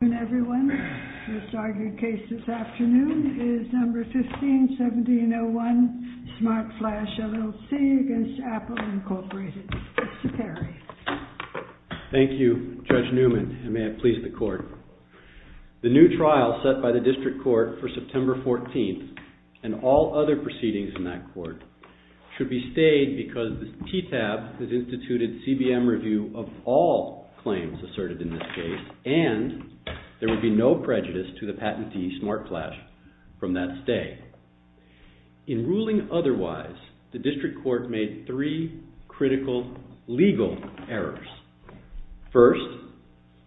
Thank you, Judge Newman, and may it please the court. The new trial set by the District Court for September 14th, and all other proceedings in that court, should be stayed because the be no prejudice to the patentee, SmartFlash, from that stay. In ruling otherwise, the District Court made three critical legal errors. First,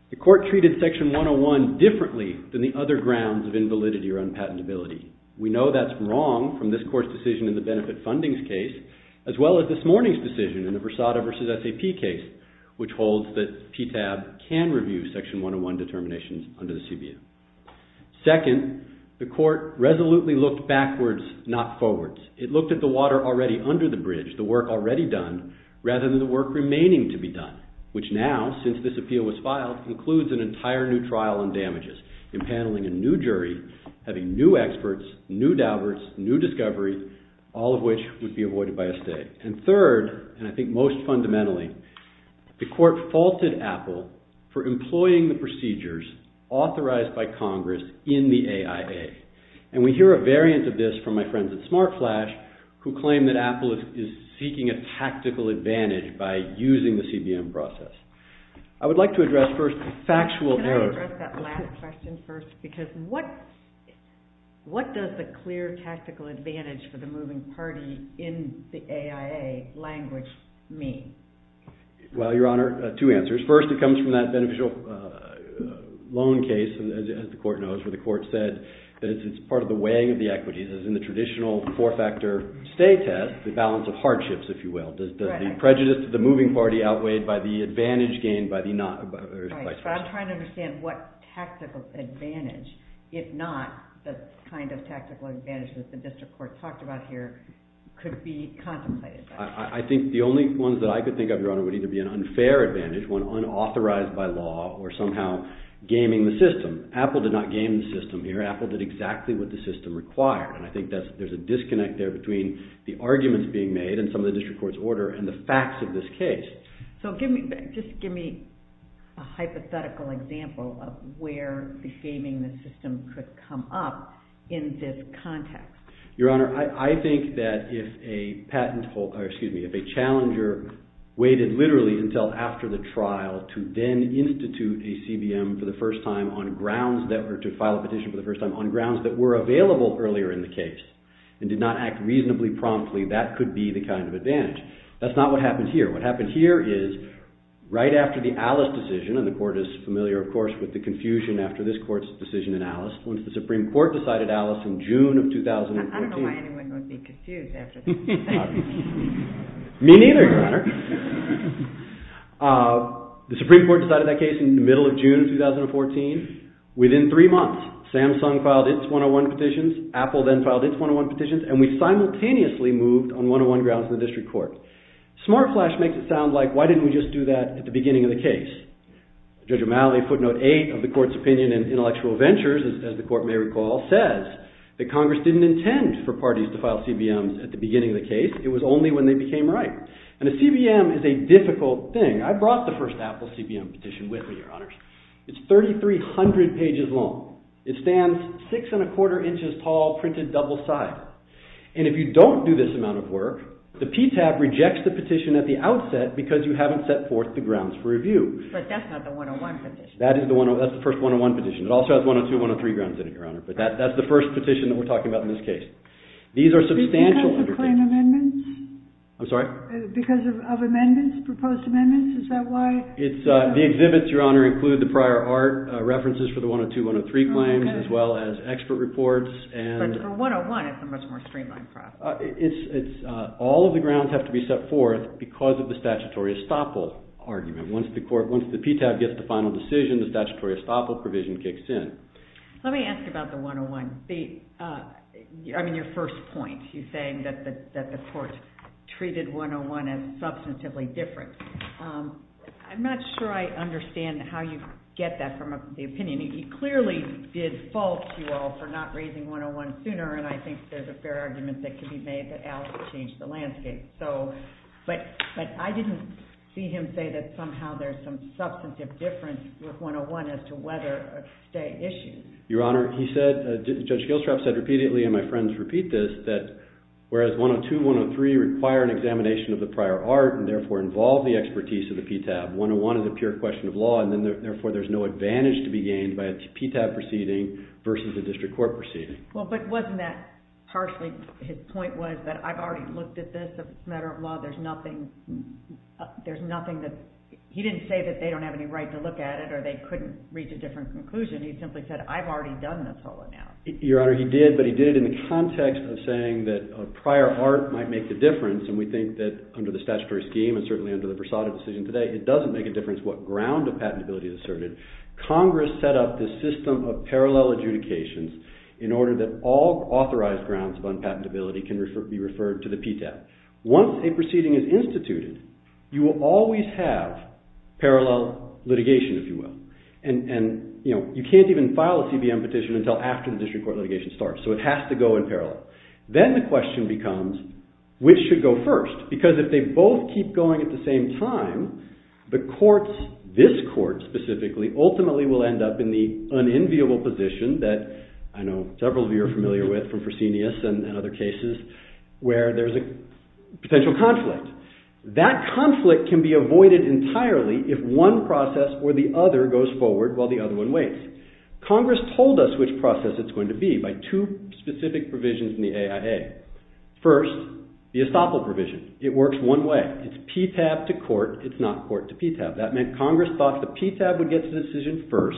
the court treated Section 101 differently than the other grounds of invalidity or unpatentability. We know that's wrong from this court's decision in the benefit fundings case, as well as this morning's decision in the Versada v. SAP case, which holds that PTAB can review Section 101 determinations under the CBO. Second, the court resolutely looked backwards, not forwards. It looked at the water already under the bridge, the work already done, rather than the work remaining to be done, which now, since this appeal was filed, includes an entire new trial on damages, impaneling a new jury, having new experts, new doubts, new discoveries, all of which would be avoided by a stay. And the court faulted Apple for employing the procedures authorized by Congress in the AIA. And we hear a variant of this from my friends at SmartFlash, who claim that Apple is seeking a tactical advantage by using the CBM process. I would like to address first the factual error. Can I address that last question first? Because what does the clear tactical advantage for the CBM process look like? Well, Your Honor, two answers. First, it comes from that beneficial loan case, as the court knows, where the court said that it's part of the weighing of the equities, as in the traditional four-factor stay test, the balance of hardships, if you will. Does the prejudice to the moving party outweighed by the advantage gained by the not- Right. So I'm trying to understand what tactical advantage, if not the kind of tactical advantage that the district court talked about here, could be contemplated. I think the only ones that I could think of, Your Honor, would either be an unfair advantage, one unauthorized by law, or somehow gaming the system. Apple did not game the system here. Apple did exactly what the system required. And I think there's a disconnect there between the arguments being made and some of the district court's order and the facts of this case. So just give me a hypothetical example of where the gaming the system could come up in this context. Your Honor, I think that if a challenger waited literally until after the trial to then institute a CBM for the first time on grounds that were to file a petition for the first time on grounds that were available earlier in the case and did not act reasonably promptly, that could be the kind of advantage. That's not what happened here. What happened here is right after the Alice decision, and the court is familiar, of course, with the confusion after this court's decision in Alice. Once the Supreme Court decided Alice in June of 2014... I don't know why anyone would be confused after that. Me neither, Your Honor. The Supreme Court decided that case in the middle of June of 2014. Within three months, Samsung filed its 101 petitions, Apple then filed its 101 petitions, and we simultaneously moved on 101 grounds in the district court. Smart Flash makes it sound like, why didn't we just do that at the beginning of the case? Judge O'Malley footnote 8 of the court's opinion in Intellectual Ventures, as the court may recall, says that Congress didn't intend for parties to file CBMs at the beginning of the case. It was only when they became ripe. And a CBM is a difficult thing. I brought the first Apple CBM petition with me, Your Honors. It's 3,300 pages long. It stands six and a quarter inches tall, printed double-sided. And if you don't do this amount of work, the PTAB rejects the petition at the outset because you haven't set forth the grounds for review. But that's not the 101 petition. That is the one, that's the first 101 petition. It also has 102, 103 grounds in it, Your Honor. But that's the first petition that we're talking about in this case. These are substantial underpinnings. Because of the claim amendments? I'm sorry? Because of amendments, proposed amendments? Is that why? It's, the exhibits, Your Honor, include the prior art, references for the 102, 103 claims, as well as expert reports, and... But for 101, it's a much more streamlined process. It's, all of the grounds have to be set forth because of the statutory estoppel argument. Once the court, once the PTAB gets the final decision, the statutory estoppel provision kicks in. Let me ask about the 101. The, I mean, your first point. You're saying that the court treated 101 as substantively different. I'm not sure I understand how you get that from the opinion. He clearly did fault you all for not raising 101 sooner, and I think there's a fair argument that could be made that Alice changed the landscape. So, but I didn't see him say that somehow there's some substantive difference with 101 as to whether a state issue. Your Honor, he said, Judge Gilstrap said repeatedly, and my friends repeat this, that whereas 102, 103 require an examination of the prior art, and therefore involve the expertise of the PTAB, 101 is a pure question of law, and then therefore there's no advantage to be gained by a PTAB proceeding versus a district court proceeding. Well, but wasn't that partially, his point was that I've already looked at this as a there's nothing that, he didn't say that they don't have any right to look at it, or they couldn't reach a different conclusion. He simply said, I've already done this whole amount. Your Honor, he did, but he did it in the context of saying that a prior art might make the difference, and we think that under the statutory scheme, and certainly under the Versada decision today, it doesn't make a difference what ground of patentability is asserted. Congress set up this system of parallel adjudications in order that all authorized grounds of unpatentability can be referred to the PTAB. Once a proceeding is instituted, you will always have parallel litigation, if you will, and you can't even file a CBM petition until after the district court litigation starts, so it has to go in parallel. Then the question becomes, which should go first? Because if they both keep going at the same time, the courts, this court specifically, ultimately will end up in the unenviable position that I know several of you are familiar with from Fresenius and other cases, where there's a potential conflict. That conflict can be avoided entirely if one process or the other goes forward while the other one waits. Congress told us which process it's going to be by two specific provisions in the AIA. First, the estoppel provision. It works one way. It's PTAB to court, it's not court to PTAB. That meant Congress thought the PTAB would get to the decision first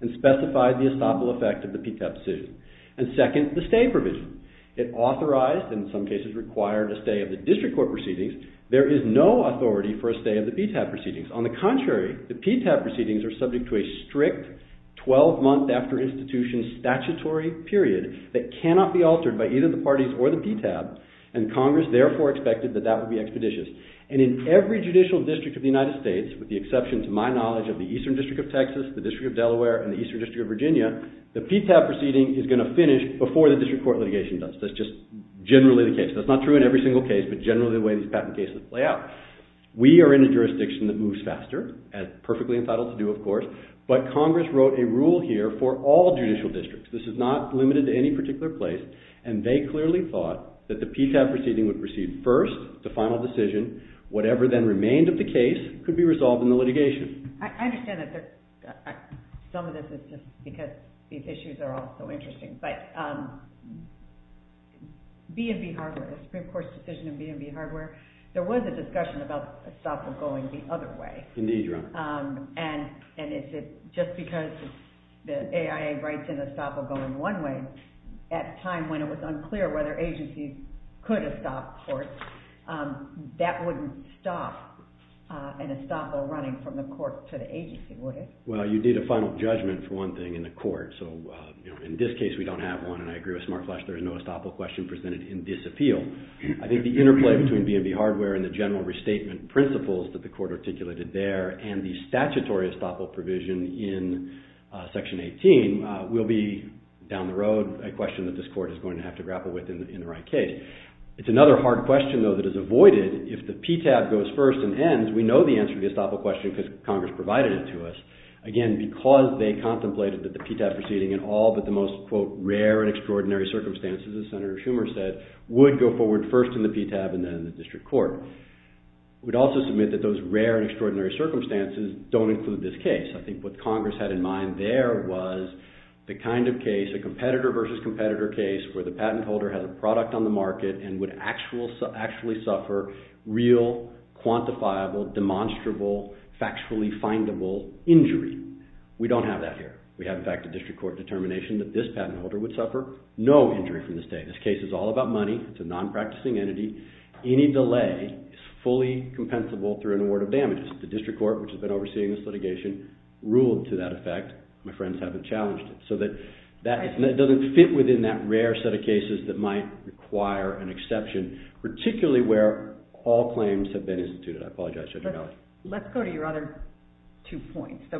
and specified the estoppel effect of the PTAB decision. And second, the stay provision. It authorized, and in some cases required, a stay of the district court proceedings. There is no authority for a stay of the PTAB proceedings. On the contrary, the PTAB proceedings are subject to a strict 12-month-after-institution statutory period that cannot be altered by either the parties or the PTAB, and Congress therefore expected that that would be expeditious. And in every judicial district of the United States, with the exception to my knowledge of the Eastern District of Texas, the District of Delaware, and the Eastern District of Virginia, the PTAB proceeding is going to finish before the district court litigation does. That's just generally the case. That's not true in every single case, but generally the way these patent cases play out. We are in a jurisdiction that moves faster, as perfectly entitled to do, of course, but Congress wrote a rule here for all judicial districts. This is not limited to any particular place, and they clearly thought that the PTAB proceeding would proceed first, the final decision. Whatever then remained of the case could be resolved in the litigation. I understand that some of this is just because these issues are all so interesting, but B&B hardware, the Supreme Court's decision in B&B hardware, there was a discussion about a stop of going the other way. Indeed, Your Honor. And is it just because the AIA writes in a stop of going one way at a time when it was an estoppel running from the court to the agency, would it? Well, you need a final judgment, for one thing, in the court. In this case, we don't have one, and I agree with SmartFlash, there is no estoppel question presented in this appeal. I think the interplay between B&B hardware and the general restatement principles that the court articulated there and the statutory estoppel provision in Section 18 will be, down the road, a question that this court is going to have to grapple with in the right It's another hard question, though, that is avoided. If the PTAB goes first and ends, we know the answer to the estoppel question because Congress provided it to us. Again, because they contemplated that the PTAB proceeding in all but the most, quote, rare and extraordinary circumstances, as Senator Schumer said, would go forward first in the PTAB and then in the district court. We'd also submit that those rare and extraordinary circumstances don't include this case. I think what Congress had in mind there was the kind of case, a competitor versus competitor case where the patent holder had a product on the market and would actually suffer real, quantifiable, demonstrable, factually findable injury. We don't have that here. We have, in fact, a district court determination that this patent holder would suffer no injury from this day. This case is all about money. It's a non-practicing entity. Any delay is fully compensable through an award of damages. The district court, which has been overseeing this litigation, ruled to that effect. My friends haven't challenged it. So that doesn't fit within that rare set of cases that might require an exception, particularly where all claims have been instituted. I apologize, Judge O'Malley. Let's go to your other two points. So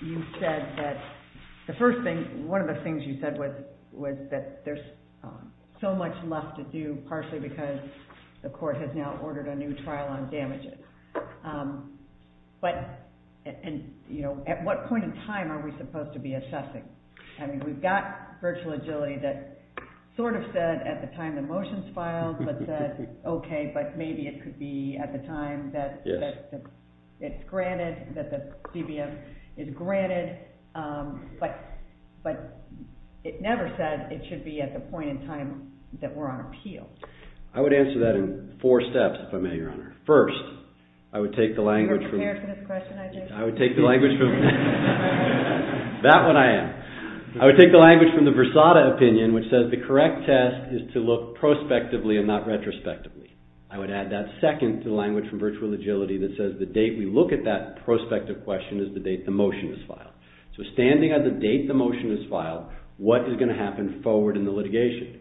you said that the first thing, one of the things you said was that there's so much left to do, partially because the court has now ordered a new trial on damages. But at what point in time are we supposed to be assessing? I mean, we've got virtual agility that sort of said at the time the motions filed, but said, OK, but maybe it could be at the time that it's granted, that the CBM is granted. But it never said it should be at the point in time that we're on appeal. I would answer that in four steps, if I may, Your Honor. First, I would take the language from the Versada opinion, which says the correct test is to look prospectively and not retrospectively. I would add that second to the language from virtual agility that says the date we look at that prospective question is the date the motion is filed. So standing on the date the motion is filed, what is going to happen forward in the litigation?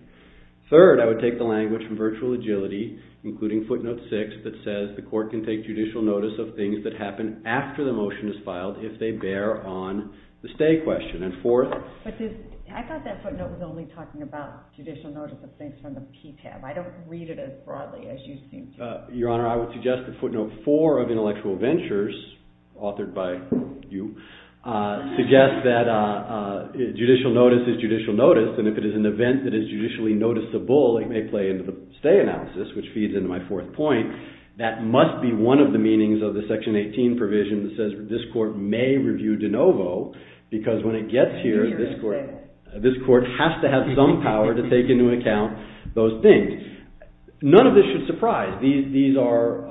Third, I would take the language from virtual agility, including footnote six, that says the court can take judicial notice of things that happen after the motion is filed if they bear on the stay question. And fourth. But I thought that footnote was only talking about judicial notice of things from the PTAB. I don't read it as broadly as you seem to. Your Honor, I would suggest that footnote four of intellectual ventures, authored by you, suggests that judicial notice is judicial notice. And if it is an event that is judicially noticeable, it may play into the stay analysis, which feeds into my fourth point. That must be one of the meanings of the section 18 provision that says this court may review de novo, because when it gets here, this court has to have some power to take into account those things. None of this should surprise. These are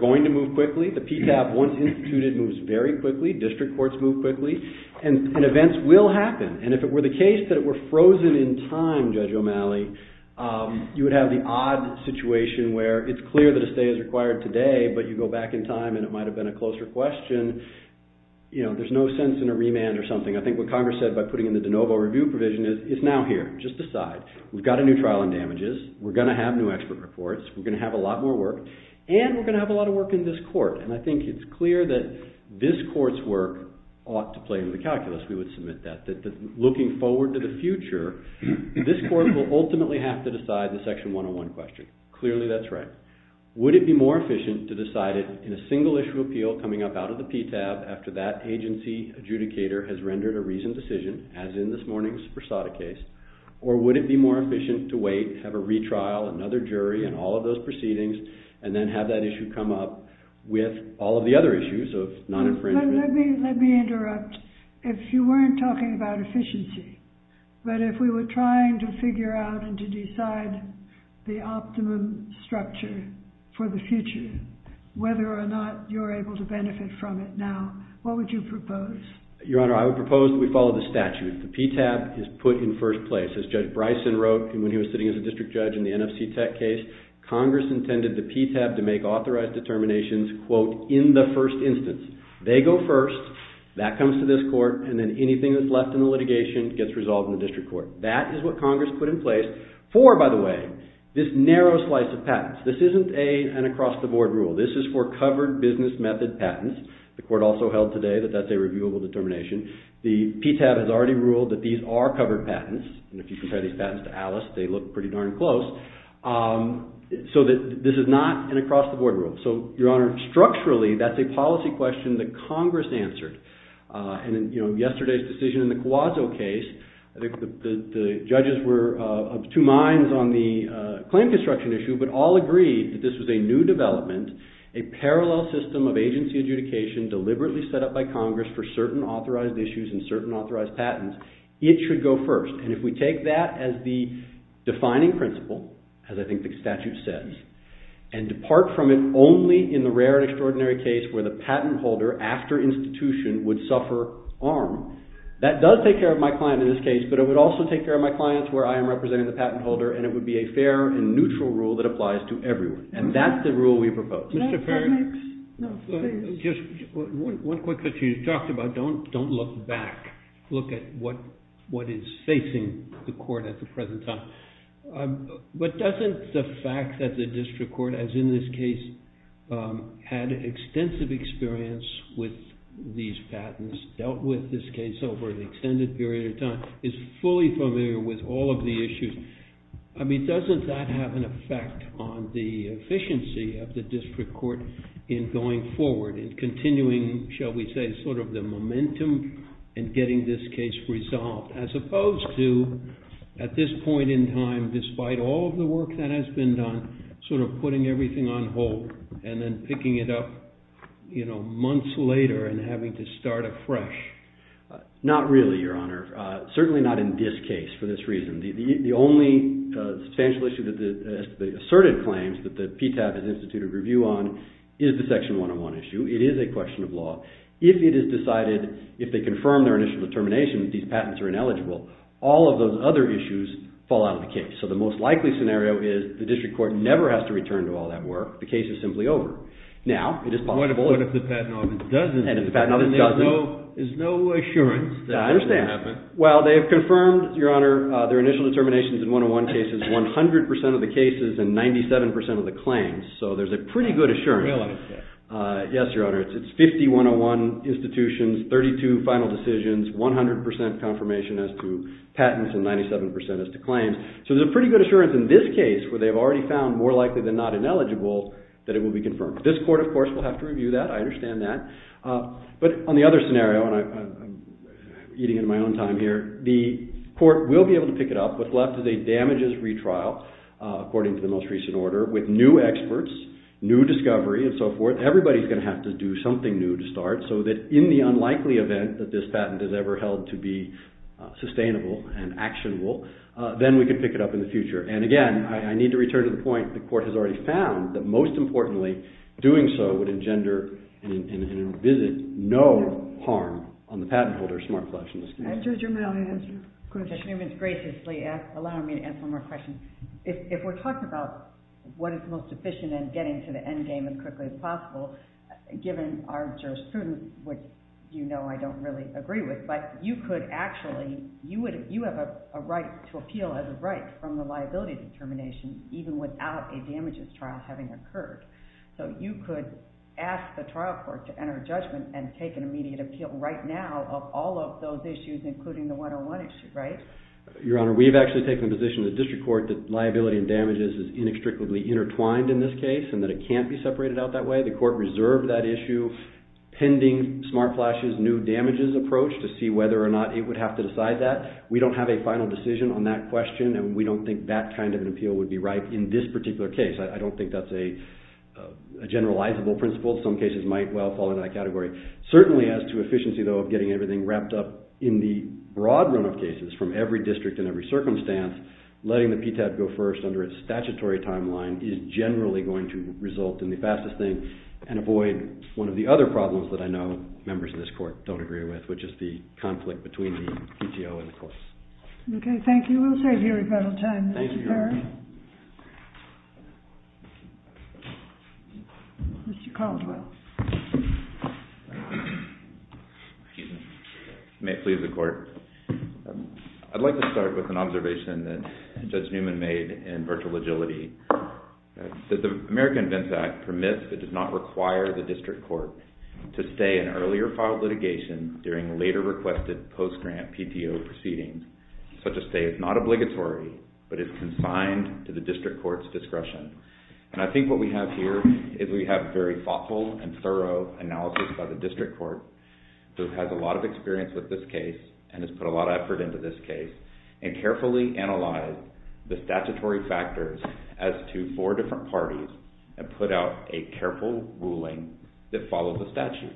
going to move quickly. The PTAB, once instituted, moves very quickly. District courts move quickly. And events will happen. And if it were the case that it were frozen in time, Judge O'Malley, you would have the odd situation where it's clear that a stay is required today, but you go back in time and it might have been a closer question. There's no sense in a remand or something. I think what Congress said by putting in the de novo review provision is, it's now here. Just decide. We've got a new trial on damages. We're going to have new expert reports. We're going to have a lot more work. And we're going to have a lot of work in this court. And I think it's clear that this court's work ought to play into the calculus. We would submit that. That looking forward to the future, this court will ultimately have to decide the Section 101 question. Clearly, that's right. Would it be more efficient to decide it in a single issue appeal coming up out of the PTAB after that agency adjudicator has rendered a reasoned decision, as in this morning's Versada case? Or would it be more efficient to wait, have a retrial, another jury, and all of those proceedings, and then have that issue come up with all of the other issues of non-infringement? Let me interrupt. If you weren't talking about efficiency, but if we were trying to figure out and to decide the optimum structure for the future, whether or not you're able to benefit from it now, what would you propose? Your Honor, I would propose that we follow the statute. The PTAB is put in first place. As Judge Bryson wrote when he was sitting as a district judge in the NFC Tech case, Congress intended the PTAB to make authorized determinations, quote, in the first instance. They go first. That comes to this court. And then anything that's left in the litigation gets resolved in the district court. That is what Congress put in place for, by the way, this narrow slice of patents. This isn't an across-the-board rule. This is for covered business method patents. The court also held today that that's a reviewable determination. The PTAB has already ruled that these are covered patents. And if you compare these patents to Alice, they look pretty darn close. So this is not an across-the-board rule. So, Your Honor, structurally, that's a policy question that Congress answered. And in yesterday's decision in the Cuazzo case, I think the judges were of two minds on the claim construction issue, but all agreed that this was a new development, a parallel system of agency adjudication deliberately set up by Congress for certain authorized issues and certain authorized patents. It should go first. And if we take that as the defining principle, as I think the statute says, and depart from it only in the rare and extraordinary case where the patent holder, after institution, would suffer harm, that does take care of my client in this case, but it would also take care of my clients where I am representing the patent holder, and it would be a fair and neutral rule that applies to everyone. And that's the rule we propose. Mr. Perry? No, please. Just one quick question you talked about. Don't look back. Look at what is facing the court at the present time. But doesn't the fact that the district court, as in this case, had extensive experience with these patents, dealt with this case over an extended period of time, is fully familiar with all of the issues. I mean, doesn't that have an effect on the efficiency of the district court in going forward, in continuing, shall we say, sort of the momentum in getting this case resolved, as opposed to, at this point in time, despite all of the work that has been done, sort of putting everything on hold and then picking it up months later and having to start afresh? Not really, Your Honor. Certainly not in this case for this reason. The only substantial issue that has to be asserted claims that the PTAB has instituted review on is the Section 101 issue. It is a question of law. If it is decided, if they confirm their initial determination that these patents are ineligible, all of those other issues fall out of the case. So the most likely scenario is the district court never has to return to all that work. The case is simply over. Now, it is possible... What if the patent office doesn't? And if the patent office doesn't... Then there's no assurance that that will happen. I understand. Well, they have confirmed, Your Honor, their initial determinations in 101 cases, 100% of the cases and 97% of the claims. So there's a pretty good assurance. Really? Yes, Your Honor. It's 50 101 institutions, 32 final decisions, 100% confirmation as to patents and 97% as to claims. So there's a pretty good assurance in this case where they've already found more likely than not ineligible that it will be confirmed. This court, of course, will have to review that. I understand that. But on the other scenario, and I'm eating into my own time here, the court will be able to pick it up. What's left is a damages retrial, according to the most recent order, with new experts, new discovery, and so forth. Everybody's going to have to do something new to start so that in the unlikely event that this patent is ever held to be sustainable and actionable, then we can pick it up in the future. And again, I need to return to the point the court has already found that, most importantly, doing so would engender and visit no harm on the patent holder's smart collection. Judge Germano, do you have a question? Judge Newman's graciously allowing me to ask one more question. If we're talking about what is most efficient in getting to the end game as quickly as possible, given our jurisprudence, which you know I don't really agree with, but you could actually, you have a right to appeal as a right from the liability determination, even without a damages trial having occurred. So you could ask the trial court to enter judgment and take an immediate appeal right now of all of those issues, including the 101 issue, right? Your Honor, we've actually taken the position of the district court that liability and damages is inextricably intertwined in this case and that it can't be separated out that way. The court reserved that issue pending smart flashes, new damages approach to see whether or not it would have to decide that. We don't have a final decision on that question and we don't think that kind of an appeal would be right in this particular case. I don't think that's a generalizable principle. Some cases might well fall in that category. Certainly as to efficiency, though, of getting everything wrapped up in the broad run of cases from every district and every circumstance, letting the PTAP go first under its statutory timeline is generally going to result in the fastest thing and avoid one of the other problems that I know members of this court don't agree with, which is the conflict between the PTO and the courts. OK, thank you. We'll stay here if we have time. Thank you, Your Honor. Thank you, Terry. Mr. Caldwell. Excuse me. May it please the court. I'd like to start with an observation that Judge Newman made in virtual agility. The American Vents Act permits, but does not require, the district court to stay in earlier filed litigation during later requested post-grant PTO proceedings. Such a stay is not obligatory, but is consigned to the district court's discretion. And I think what we have here is we have very thoughtful and thorough analysis by the district court, who has a lot of experience with this case and has put a lot of effort into this case and carefully analyzed the statutory factors as to four different parties and put out a careful ruling that follows the statute,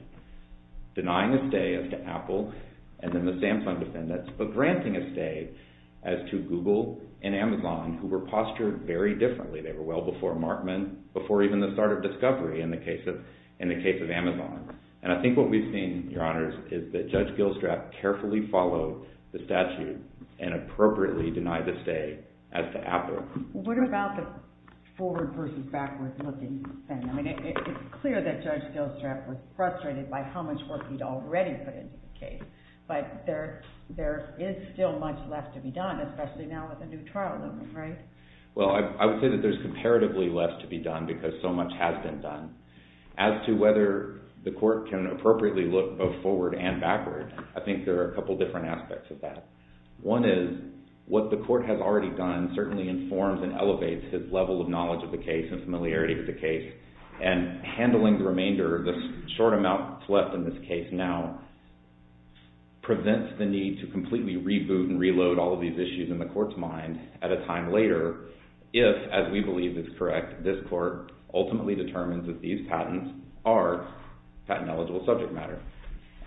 denying a stay as to Apple and then the Samsung defendants, but granting a stay as to Google and Amazon, who were postured very differently. They were well before Markman, before even the start of discovery in the case of Amazon. And I think what we've seen, Your Honors, is that Judge Gilstrap carefully followed the statute and appropriately denied the stay as to Apple. What about the forward versus backward looking thing? I mean, it's clear that Judge Gilstrap was frustrated by how much work he'd already put into the case. But there is still much left to be done, especially now with the new trial looming, right? Well, I would say that there's comparatively less to be done because so much has been done. As to whether the court can appropriately look both forward and backward, I think there are a couple different aspects of that. One is what the court has already done certainly informs and elevates his level of knowledge of the case and familiarity with the case. And handling the remainder of the short amount left in this case now prevents the need to completely reboot and reload all of these issues in the court's mind at a time later, if, as we believe is correct, this court ultimately determines that these patents are patent-eligible subject matter.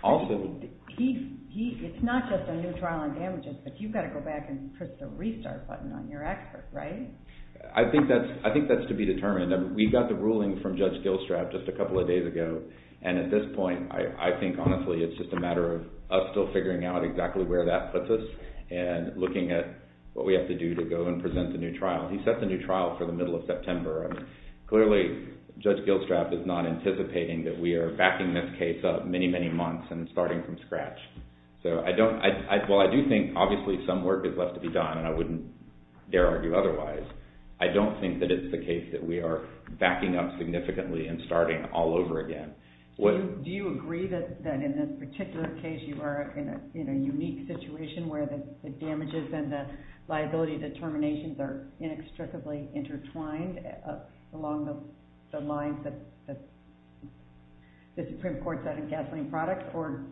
Also, it's not just a new trial on damages, but you've got to go back and press the restart button on your expert, right? I think that's to be determined. We got the ruling from Judge Gilstrap just a couple of days ago. And at this point, I think, honestly, it's just a matter of us still figuring out exactly where that puts us and looking at what we have to do to go and present the new trial. He set the new trial for the middle of September. Clearly, Judge Gilstrap is not anticipating that we are backing this case up many, many months and starting from scratch. While I do think, obviously, some work is left to be done, and I wouldn't dare argue otherwise, I don't think that it's the case that we are backing up significantly and starting all over again. Do you agree that in this particular case, you are in a unique situation where the damages and the liability determinations are inextricably intertwined along the lines that the Supreme Court said in gasoline product? Or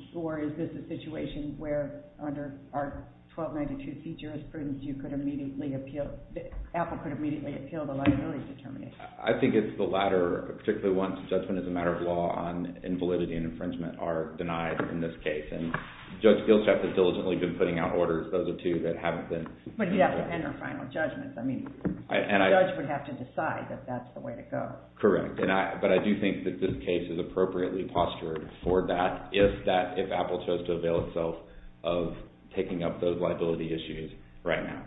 is this a situation where under our 1292C jurisprudence, Apple could immediately appeal the liability determination? I think it's the latter, particularly once judgment as a matter of law on invalidity and infringement are denied in this case. And Judge Gilstrap has diligently been putting out orders, those are two that haven't been. But he'd have to enter final judgments. I mean, the judge would have to decide that that's the way to go. Correct. But I do think that this case is appropriately postured for that if Apple chose to avail itself of taking up those liability issues right now.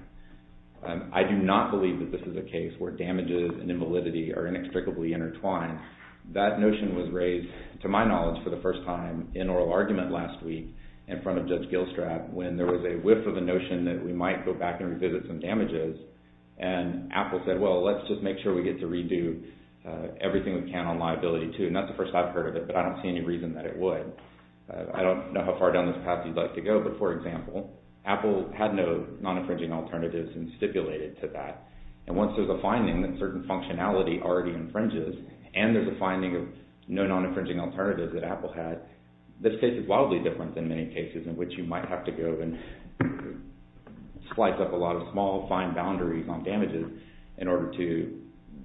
I do not believe that this is a case where damages and invalidity are inextricably intertwined. That notion was raised, to my knowledge, for the first time in oral argument last week in front of Judge Gilstrap when there was a whiff of a notion that we might go back and revisit some damages. And Apple said, well, let's just make sure we get to redo everything we can on liability too. And that's the first I've heard of it, but I don't see any reason that it would. I don't know how far down this path you'd like to go, but for example, Apple had no non-infringing alternatives and stipulated to that. And once there's a finding that certain functionality already infringes, and there's a finding of no non-infringing alternatives that Apple had, this case is wildly different than many cases in which you might have to go and slice up a lot of small, fine boundaries on damages in order to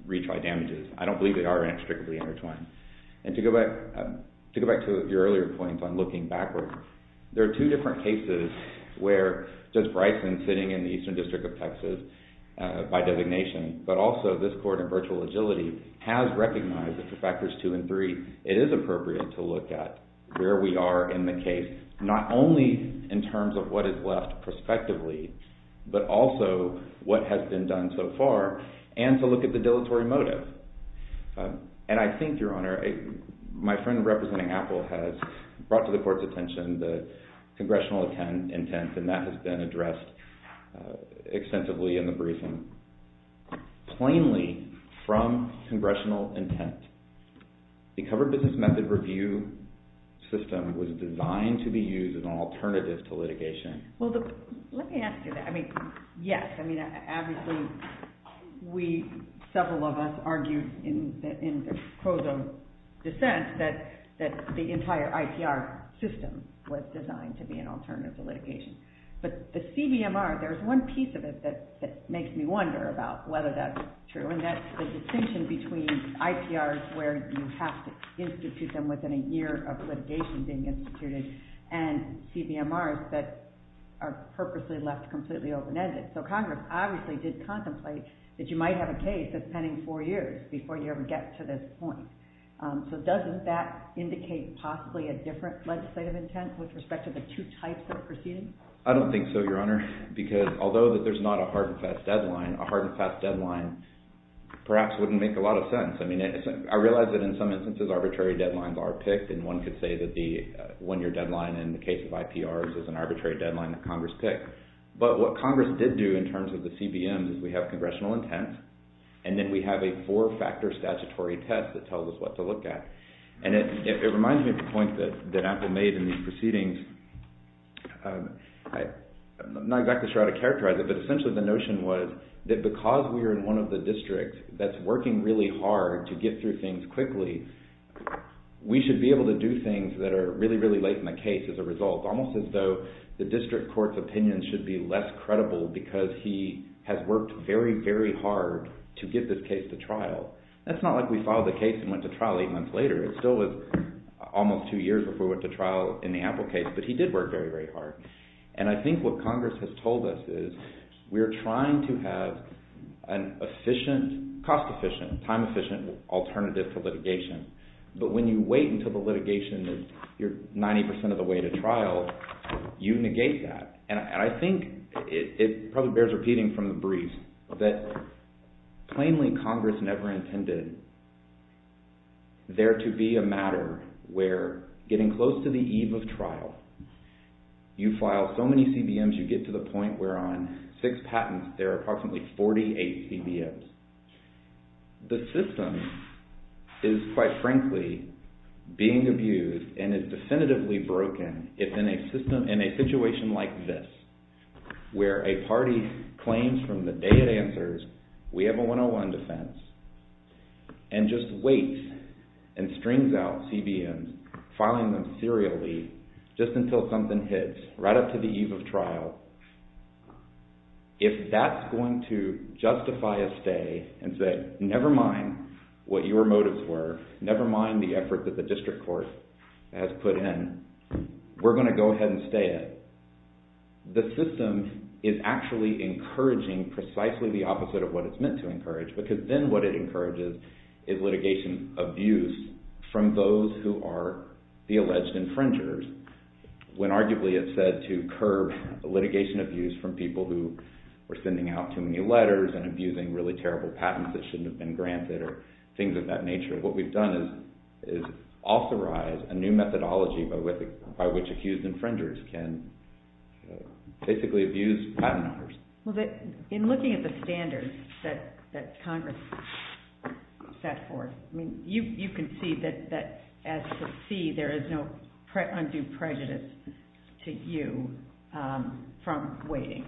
retry damages. I don't believe they are inextricably intertwined. And to go back to your earlier point on looking backwards, there are two different cases where Judge Bryson, sitting in the Eastern District of Texas by designation, but also this court in virtual agility, has recognized that for factors two and three, it is appropriate to look at where we are in the case, not only in terms of what is left prospectively, but also what has been done so far, and to look at the dilatory motive. And I think, Your Honor, my friend representing Apple has brought to the court's attention the congressional intent, and that has been addressed extensively in the briefing. Plainly, from congressional intent, the covered business method review system was designed to be used as an alternative to litigation. Well, let me ask you that. I mean, yes. I mean, obviously, we, several of us, argued in the prose of dissent that the entire IPR system was designed to be an alternative to litigation. But the CBMR, there's one piece of it that makes me wonder about whether that's true, and that's the distinction between IPRs where you have to institute them within a year of litigation being instituted, and CBMRs that are purposely left completely open-ended. So Congress obviously did contemplate that you might have a case that's pending four years before you ever get to this point. So doesn't that indicate possibly a different legislative intent with respect to the two types of proceedings? I don't think so, Your Honor, because although there's not a hard and fast deadline, a hard and fast deadline perhaps wouldn't make a lot of sense. I mean, I realize that in some instances arbitrary deadlines are picked, and one could say that the one-year deadline in the case of IPRs is an arbitrary deadline that Congress picked. But what Congress did do in terms of the CBMs is we have congressional intent, and then we have a four-factor statutory test that tells us what to look at. And it reminds me of the point that Apple made in these proceedings. I'm not exactly sure how to characterize it, but essentially the notion was that because we are in one of the districts that's working really hard to get through things quickly, we should be able to do things that are really, really late in the case as a result, almost as though the district court's opinion should be less credible because he has worked very, very hard to get this case to trial. That's not like we filed the case and went to trial eight months later. It still was almost two years before we went to trial in the Apple case, but he did work very, very hard. And I think what Congress has told us is we're trying to have an efficient, cost-efficient, time-efficient alternative to litigation. But when you wait until the litigation is 90% of the way to trial, you negate that. And I think it probably bears repeating from the brief that plainly Congress never intended there to be a matter where getting close to the eve of trial, you file so many CBMs, you get to the point where on six patents there are approximately 48 CBMs. The system is, quite frankly, being abused and is definitively broken in a situation like this where a party claims from the day it answers we have a 101 defense and just waits and strings out CBMs, filing them serially just until something hits right up to the eve of trial. If that's going to stay and say, never mind what your motives were, never mind the effort that the district court has put in, we're going to go ahead and stay it. The system is actually encouraging precisely the opposite of what it's meant to encourage, because then what it encourages is litigation abuse from those who are the alleged infringers when arguably it's said to curb litigation abuse from people who are sending out too many letters and abusing really terrible patents that shouldn't have been granted or things of that nature. What we've done is authorize a new methodology by which accused infringers can basically abuse patent owners. In looking at the standards that Congress set forth, you concede that as to see there is no undue prejudice to you from waiting.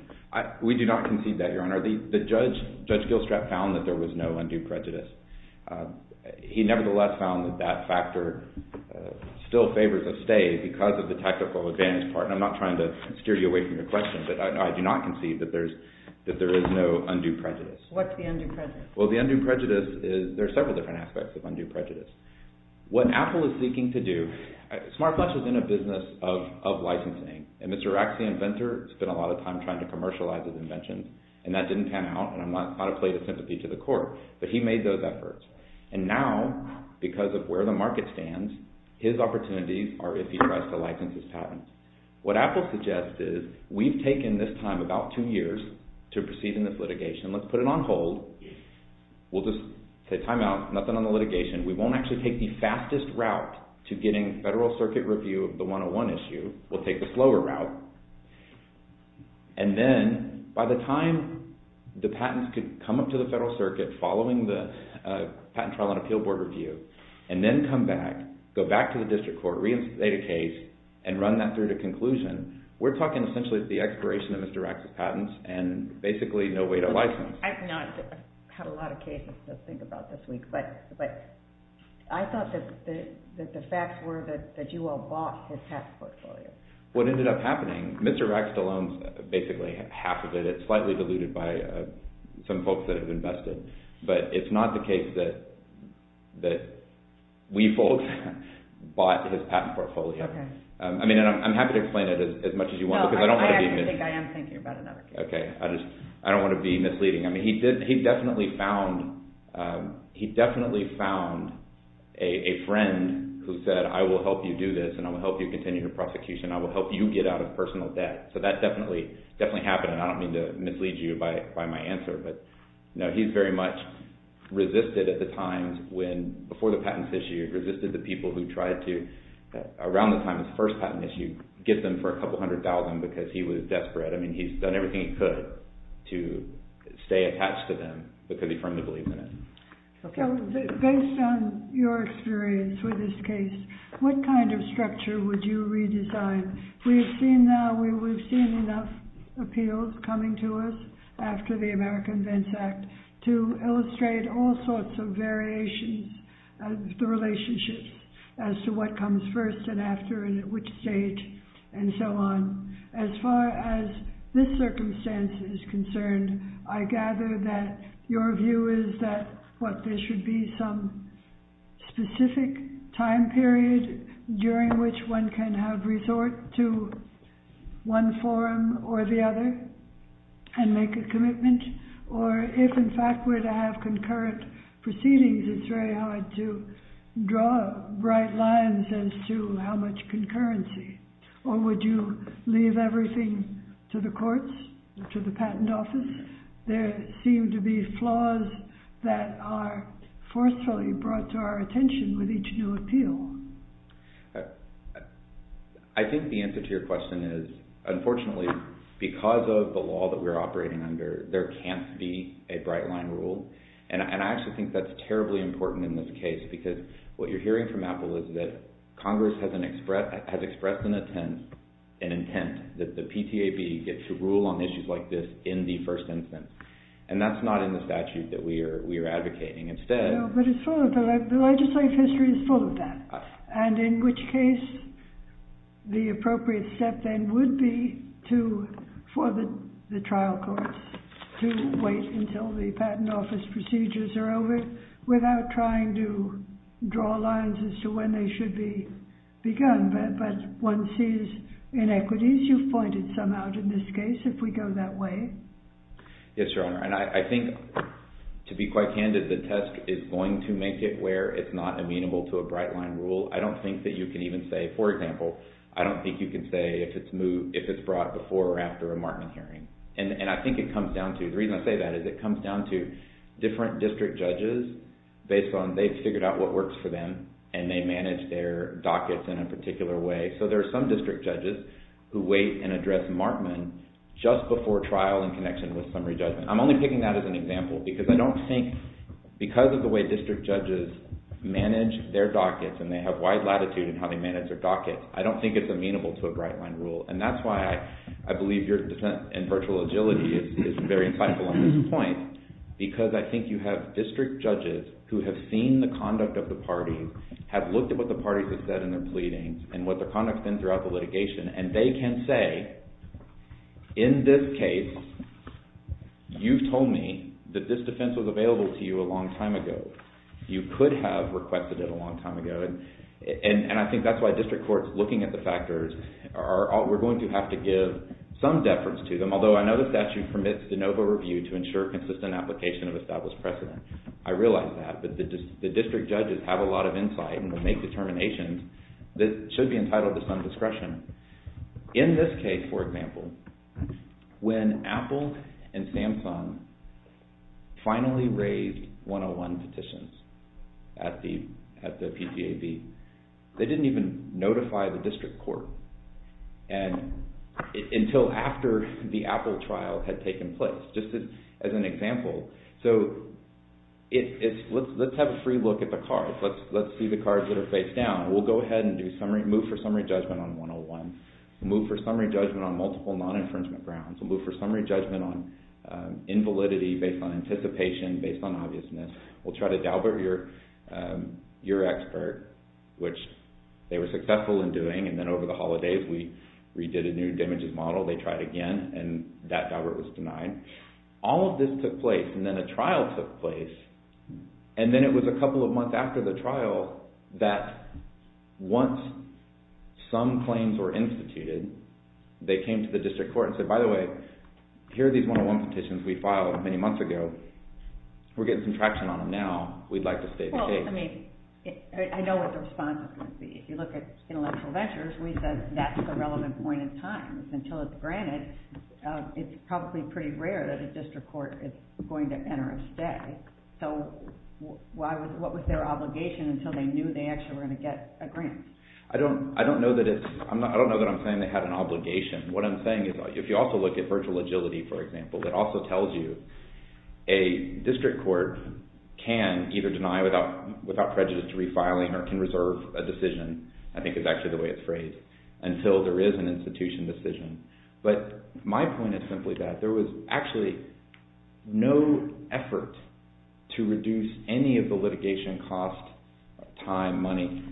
We do not concede that, Your Honor. Judge Gilstrap found that there was no undue prejudice. He nevertheless found that that factor still favors a stay because of the tactical advantage part. I'm not trying to steer you away from your question, but I do not concede that there is no undue prejudice. What's the undue prejudice? There are several different aspects of undue prejudice. What Apple is seeking to do, SmartPlus is in a business of licensing, and Mr. Commercializes Inventions, and that didn't pan out, and I'm not trying to play the sympathy to the court, but he made those efforts. Now, because of where the market stands, his opportunities are if he tries to license his patents. What Apple suggests is, we've taken this time, about two years, to proceeding this litigation. Let's put it on hold. We'll just say timeout, nothing on the litigation. We won't actually take the fastest route to getting Federal Circuit review of the 101 issue. We'll take the slower route. And then, by the time the patents could come up to the Federal Circuit, following the Patent Trial and Appeal Board review, and then come back, go back to the District Court, reinstate a case, and run that through to conclusion, we're talking essentially the expiration of Mr. Rack's patents, and basically no way to license. I've had a lot of cases to think about this week, but I thought that the facts were that you all bought his patent portfolio. What ended up happening, Mr. Rack still owns basically half of it. It's slightly diluted by some folks that have invested, but it's not the case that we folks bought his patent portfolio. I'm happy to explain it as much as you want, because I don't want to be misleading. I don't want to be misleading. He definitely found a friend who said, I will help you do prosecution. I will help you get out of personal debt. That definitely happened, and I don't mean to mislead you by my answer, but he's very much resisted at the times when before the patents issue, resisted the people who tried to, around the time of the first patent issue, get them for a couple hundred thousand because he was desperate. He's done everything he could to stay attached to them because he firmly believed in it. Based on your experience with this case, what kind of structure would you redesign? We've seen enough appeals coming to us after the American Vents Act to illustrate all sorts of variations of the relationships as to what comes first and after and at which stage and so on. As far as this circumstance is concerned, I gather that your view is that there should be some specific time period during which one can have resort to one forum or the other and make a commitment, or if in fact we're to have concurrent proceedings, it's very hard to draw bright lines as to how much concurrency or would you leave everything to the courts, to the patent office? There seem to be flaws that are forcefully brought to our attention with each new appeal. I think the answer to your question is, unfortunately, because of the law that we're operating under, there can't be a bright line rule and I actually think that's terribly important in this case because what you're hearing from Apple is that Congress has expressed an intent that the PTAB gets to rule on issues like this in the first instance and that's not in the statute that we are advocating. The legislative history is full of that, and in which case the appropriate step then would be for the trial courts to wait until the patent office procedures are over without trying to draw lines as to when they should be begun, but one sees inequities. You've pointed some out in this case, if we go that way. Yes, Your Honor, and I think, to be quite candid, the test is going to make it where it's not amenable to a bright line rule. I don't think that you can even say, for example, I don't think you can say if it's brought before or after a Markman hearing, and I think it comes down to, the reason I say that is it comes down to different district judges based on, they've figured out what works for them, and they manage their dockets in a particular way, so there are some district judges who wait and wait for trial in connection with summary judgment. I'm only picking that as an example because I don't think, because of the way district judges manage their dockets, and they have wide latitude in how they manage their dockets, I don't think it's amenable to a bright line rule, and that's why I believe your dissent in virtual agility is very insightful on this point because I think you have district judges who have seen the conduct of the parties, have looked at what the parties have said in their pleadings, and what their conduct has been throughout the litigation, and they can say, in this case, you've told me that this defense was available to you a long time ago. You could have requested it a long time ago, and I think that's why district courts looking at the factors are, we're going to have to give some deference to them, although I know the statute permits de novo review to ensure consistent application of established precedent. I realize that, but the district judges have a lot of insight and will make determinations that should be entitled to some discretion. In this case, for example, when Apple and Samsung finally raised 101 petitions at the PTAB, they didn't even notify the district court until after the Apple trial had taken place, just as an example. So, let's have a free look at the cards. Let's see the cards that are faced down. We'll go ahead and move for summary judgment on 101. We'll move for summary judgment on multiple non-infringement grounds. We'll move for summary judgment on invalidity based on anticipation, based on obviousness. We'll try to dauber your expert, which they were successful in doing, and then over the holidays, we redid a new damages model. They tried again, and that dauber was denied. All of this took place, and then a trial took place, and then it was a couple of months after the trial that once some claims were instituted, they came to the district court and said, by the way, here are these 101 petitions we filed many months ago. We're getting some traction on them now. We'd like to stay the case. I know what the response would be. If you look at intellectual ventures, we said that's the relevant point in time. Until it's granted, it's probably pretty rare that a district court is going to enter a stay. What was their obligation until they knew they actually were going to get a grant? I don't know that I'm saying they had an obligation. What I'm saying is, if you also look at virtual agility, for example, it also tells you a district court can either deny without prejudice to refiling or can reserve a decision, I think is actually the way it's phrased, until there is an institution decision. My point is simply that there was actually no effort to reduce any of the litigation cost, time, money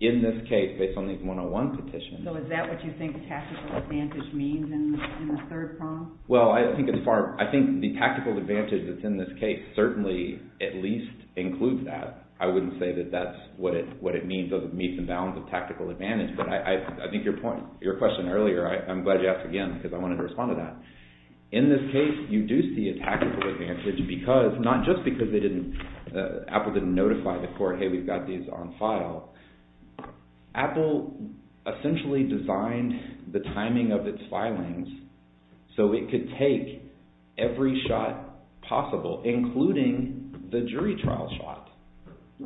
in this case based on these 101 petitions. Is that what you think tactical advantage means in the third prong? I think the tactical advantage that's in this case certainly at least includes that. I wouldn't say that that's what it means as it meets the bounds of tactical advantage. I think your point, your question earlier, I'm glad you asked again because I wanted to respond to that. In this case, you do see a tactical advantage because, not just because Apple didn't notify the court, hey, we've got these on file. Apple essentially designed the timing of its filings so it could take every shot possible, including the jury trial shot.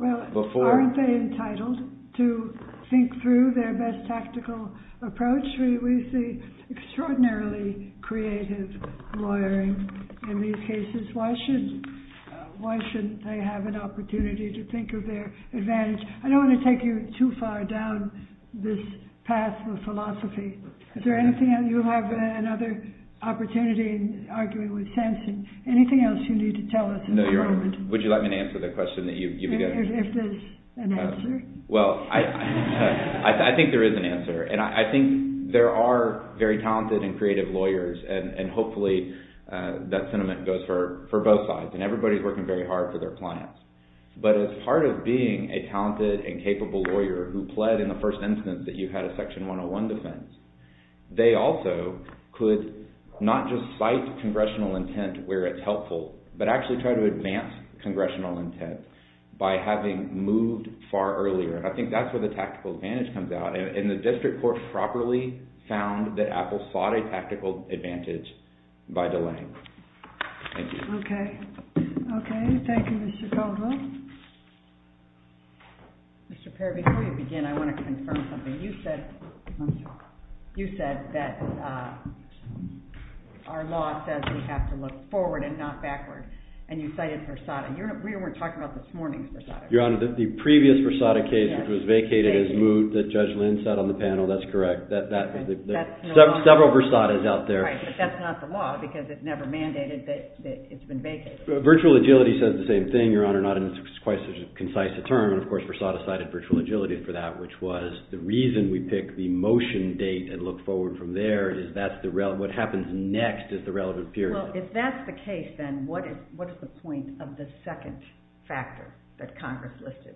Aren't they entitled to think through their best tactical approach? We see extraordinarily creative lawyering in these cases. Why shouldn't they have an opportunity to think of their advantage? I don't want to take you too far down this path of philosophy. You'll have another opportunity in arguing with Sampson. Anything else you need to tell us in a moment? Would you like me to answer the question that you began? If there's an answer. Well, I think there is an answer. I think there are very talented and creative lawyers. Hopefully, that sentiment goes for both sides. Everybody's working very hard for their clients. As part of being a talented and capable lawyer who pled in the first instance that you had a Section 101 defense, they also could not just cite congressional intent where it's helpful, but actually try to advance congressional intent by having moved far earlier. I think that's where the tactical advantage comes out. And the district court properly found that Apple sought a tactical advantage by delaying. Thank you. Okay. Thank you, Mr. Caldwell. Mr. Perry, before you begin, I want to confirm something. You said that our law says we have to look forward and not backward. And you cited Versada. We weren't talking about this morning's Versada case. Your Honor, the previous Versada case, which was vacated as moot that Judge Lynn said on the panel, that's correct. Several Versadas out there. Right, but that's not the law because it never mandated that it's been vacated. Virtual agility says the same thing, Your Honor, not in quite such a concise term. Of course, Versada cited virtual agility for that, which was the reason we pick the motion date and look forward from there is what happens next is the relevant period. Well, if that's the case, then what is the point of the Congress listed?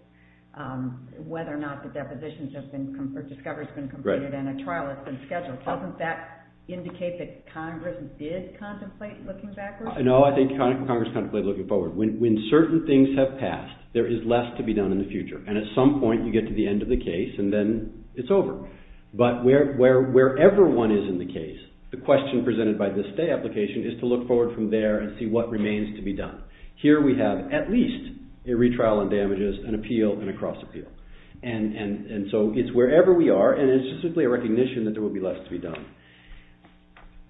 Whether or not the depositions have been or discoveries have been completed and a trial has been scheduled. Doesn't that indicate that Congress did contemplate looking backwards? No, I think Congress contemplated looking forward. When certain things have passed, there is less to be done in the future. And at some point, you get to the end of the case and then it's over. But wherever one is in the case, the question presented by the stay application is to look forward from there and see what remains to be done. Here we have at least a retrial on damages, an appeal, and a cross appeal. And so it's wherever we are and it's just simply a recognition that there will be less to be done.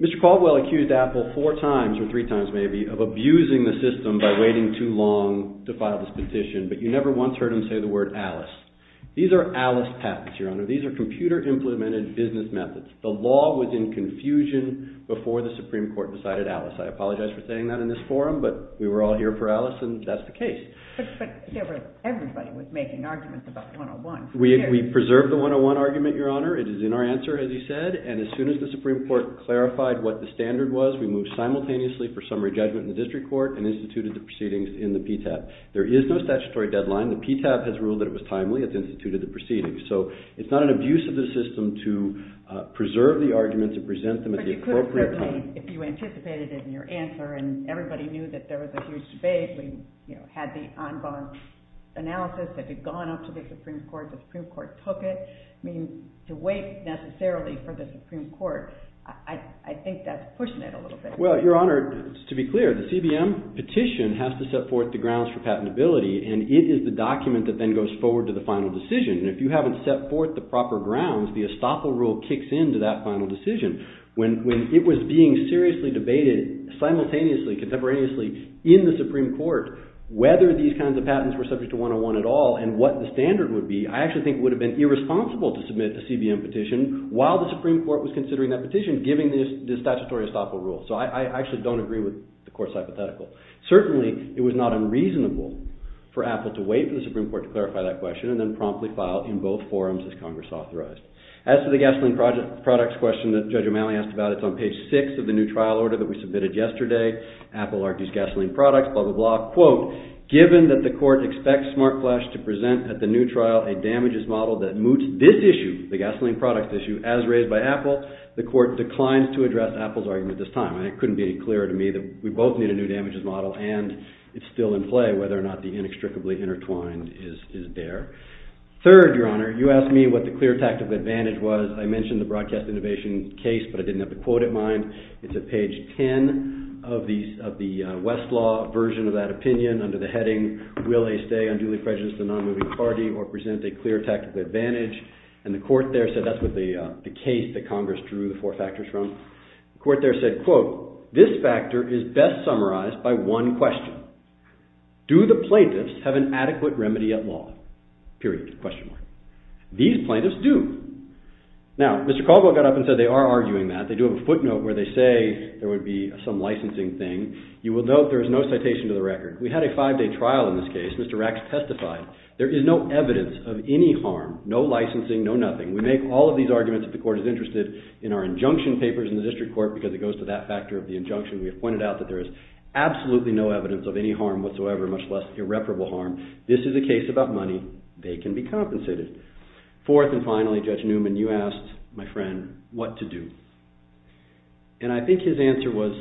Mr. Caldwell accused Apple four times or three times maybe of abusing the system by waiting too long to file this petition, but you never once heard him say the word Alice. These are Alice patents, Your Honor. These are computer implemented business methods. The law was in confusion before the Supreme Court decided Alice. I apologize for saying that in this forum, but we were all here for Alice and that's the case. But everybody was making arguments about 101. We preserved the 101 argument, Your Honor. It is in our answer, as you said. And as soon as the Supreme Court clarified what the standard was, we moved simultaneously for summary judgment in the district court and instituted the proceedings in the PTAB. There is no statutory deadline. The PTAB has ruled that it was timely. It's instituted the proceedings. So it's not an abuse of the system to preserve the argument to present them at the appropriate time. I mean, if you anticipated it in your answer and everybody knew that there was a huge debate, we had the ongoing analysis that had gone up to the Supreme Court. The Supreme Court took it. I mean, to wait necessarily for the Supreme Court, I think that's pushing it a little bit. Well, Your Honor, to be clear, the CBM petition has to set forth the grounds for patentability and it is the document that then goes forward to the final decision. If you haven't set forth the proper grounds, the estoppel rule kicks in to that final decision. When it was being seriously debated simultaneously, contemporaneously, in the Supreme Court, whether these kinds of patents were subject to 101 at all and what the standard would be, I actually think it would have been irresponsible to submit the CBM petition while the Supreme Court was considering that petition, giving the statutory estoppel rule. So I actually don't agree with the Court's hypothetical. Certainly, it was not unreasonable for Apple to wait for the Supreme Court to clarify that question and then promptly file in both forums as Congress authorized. As for the gasoline products question that Judge O'Malley asked about, it's on page 6 of the new trial order that we submitted yesterday. Apple argues gasoline products, blah, blah, blah, quote, given that the Court expects SmartFlash to present at the new trial a damages model that moots this issue, the gasoline products issue, as raised by Apple, the Court declines to address Apple's argument this time. It couldn't be clearer to me that we both need a new damages model and it's still in play whether or not the inextricably intertwined is there. Third, Your Honor, you asked me what the clear tactical advantage was. I mentioned the broadcast innovation case, but I didn't have the quote in mind. It's at page 10 of the Westlaw version of that opinion under the heading, Will they stay unduly prejudiced to the non-moving party or present a clear tactical advantage? And the Court there said that's what the case that Congress drew the four factors from. The Court there said, quote, This factor is best summarized by one question. Do the plaintiffs have an adequate remedy at law? Period. Question mark. These plaintiffs do. Now, Mr. Caldwell got up and said they are arguing that. They do have a footnote where they say there would be some licensing thing. You will note there is no citation to the record. We had a five-day trial in this case. Mr. Racks testified there is no evidence of any harm, no licensing, no nothing. We make all of these arguments that the Court is interested in our injunction papers in the District Court because it goes to that factor of the injunction. We have pointed out that there is absolutely no evidence of any harm whatsoever, much less irreparable harm. This is a case about money. They can be compensated. Fourth and finally, Judge Newman, you asked my friend what to do. And I think his answer was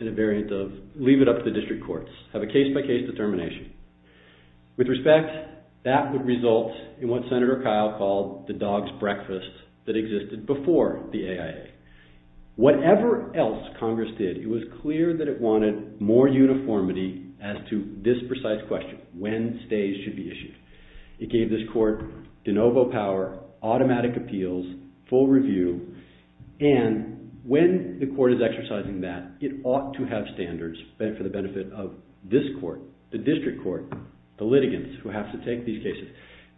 in a variant of leave it up to the District Courts. Have a case-by-case determination. With respect, that would result in what Senator Kyle called the dog's breakfast that existed before the AIA. Whatever else Congress did, it was clear that it wanted more uniformity as to this precise question, when stays should be issued. It gave this Court de novo power, automatic appeals, full review, and when the Court is exercising that, it ought to have standards for the benefit of this Court, the District Court, the litigants who have to take these cases.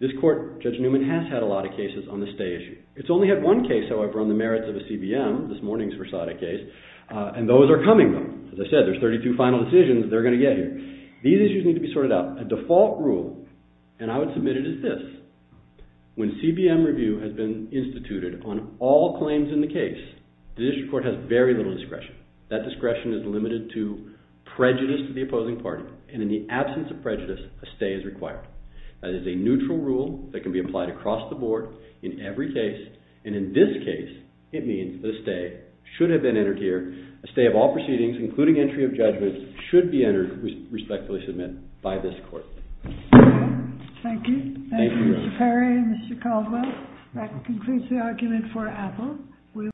This Court, Judge Newman, has had a lot of cases on the stay issue. It's only had one case, however, on the merits of a CBM, this morning's Versada case, and those are coming, though. As I said, there's 32 final decisions they're going to get here. These issues need to be sorted out. A default rule, and I would submit it as this, when CBM review has been instituted on all claims in the case, the District Court has very little discretion. That discretion is limited to prejudice to the opposing party, and in the absence of prejudice, a stay is required. That is a neutral rule that can be applied across the board, in every case, and in this case, it means the stay should have been entered here. A stay of all proceedings, including entry of judgment, should be entered, respectfully submit, by this Court. Thank you. Thank you, Mr. Perry and Mr. Caldwell. That concludes the argument for Apple.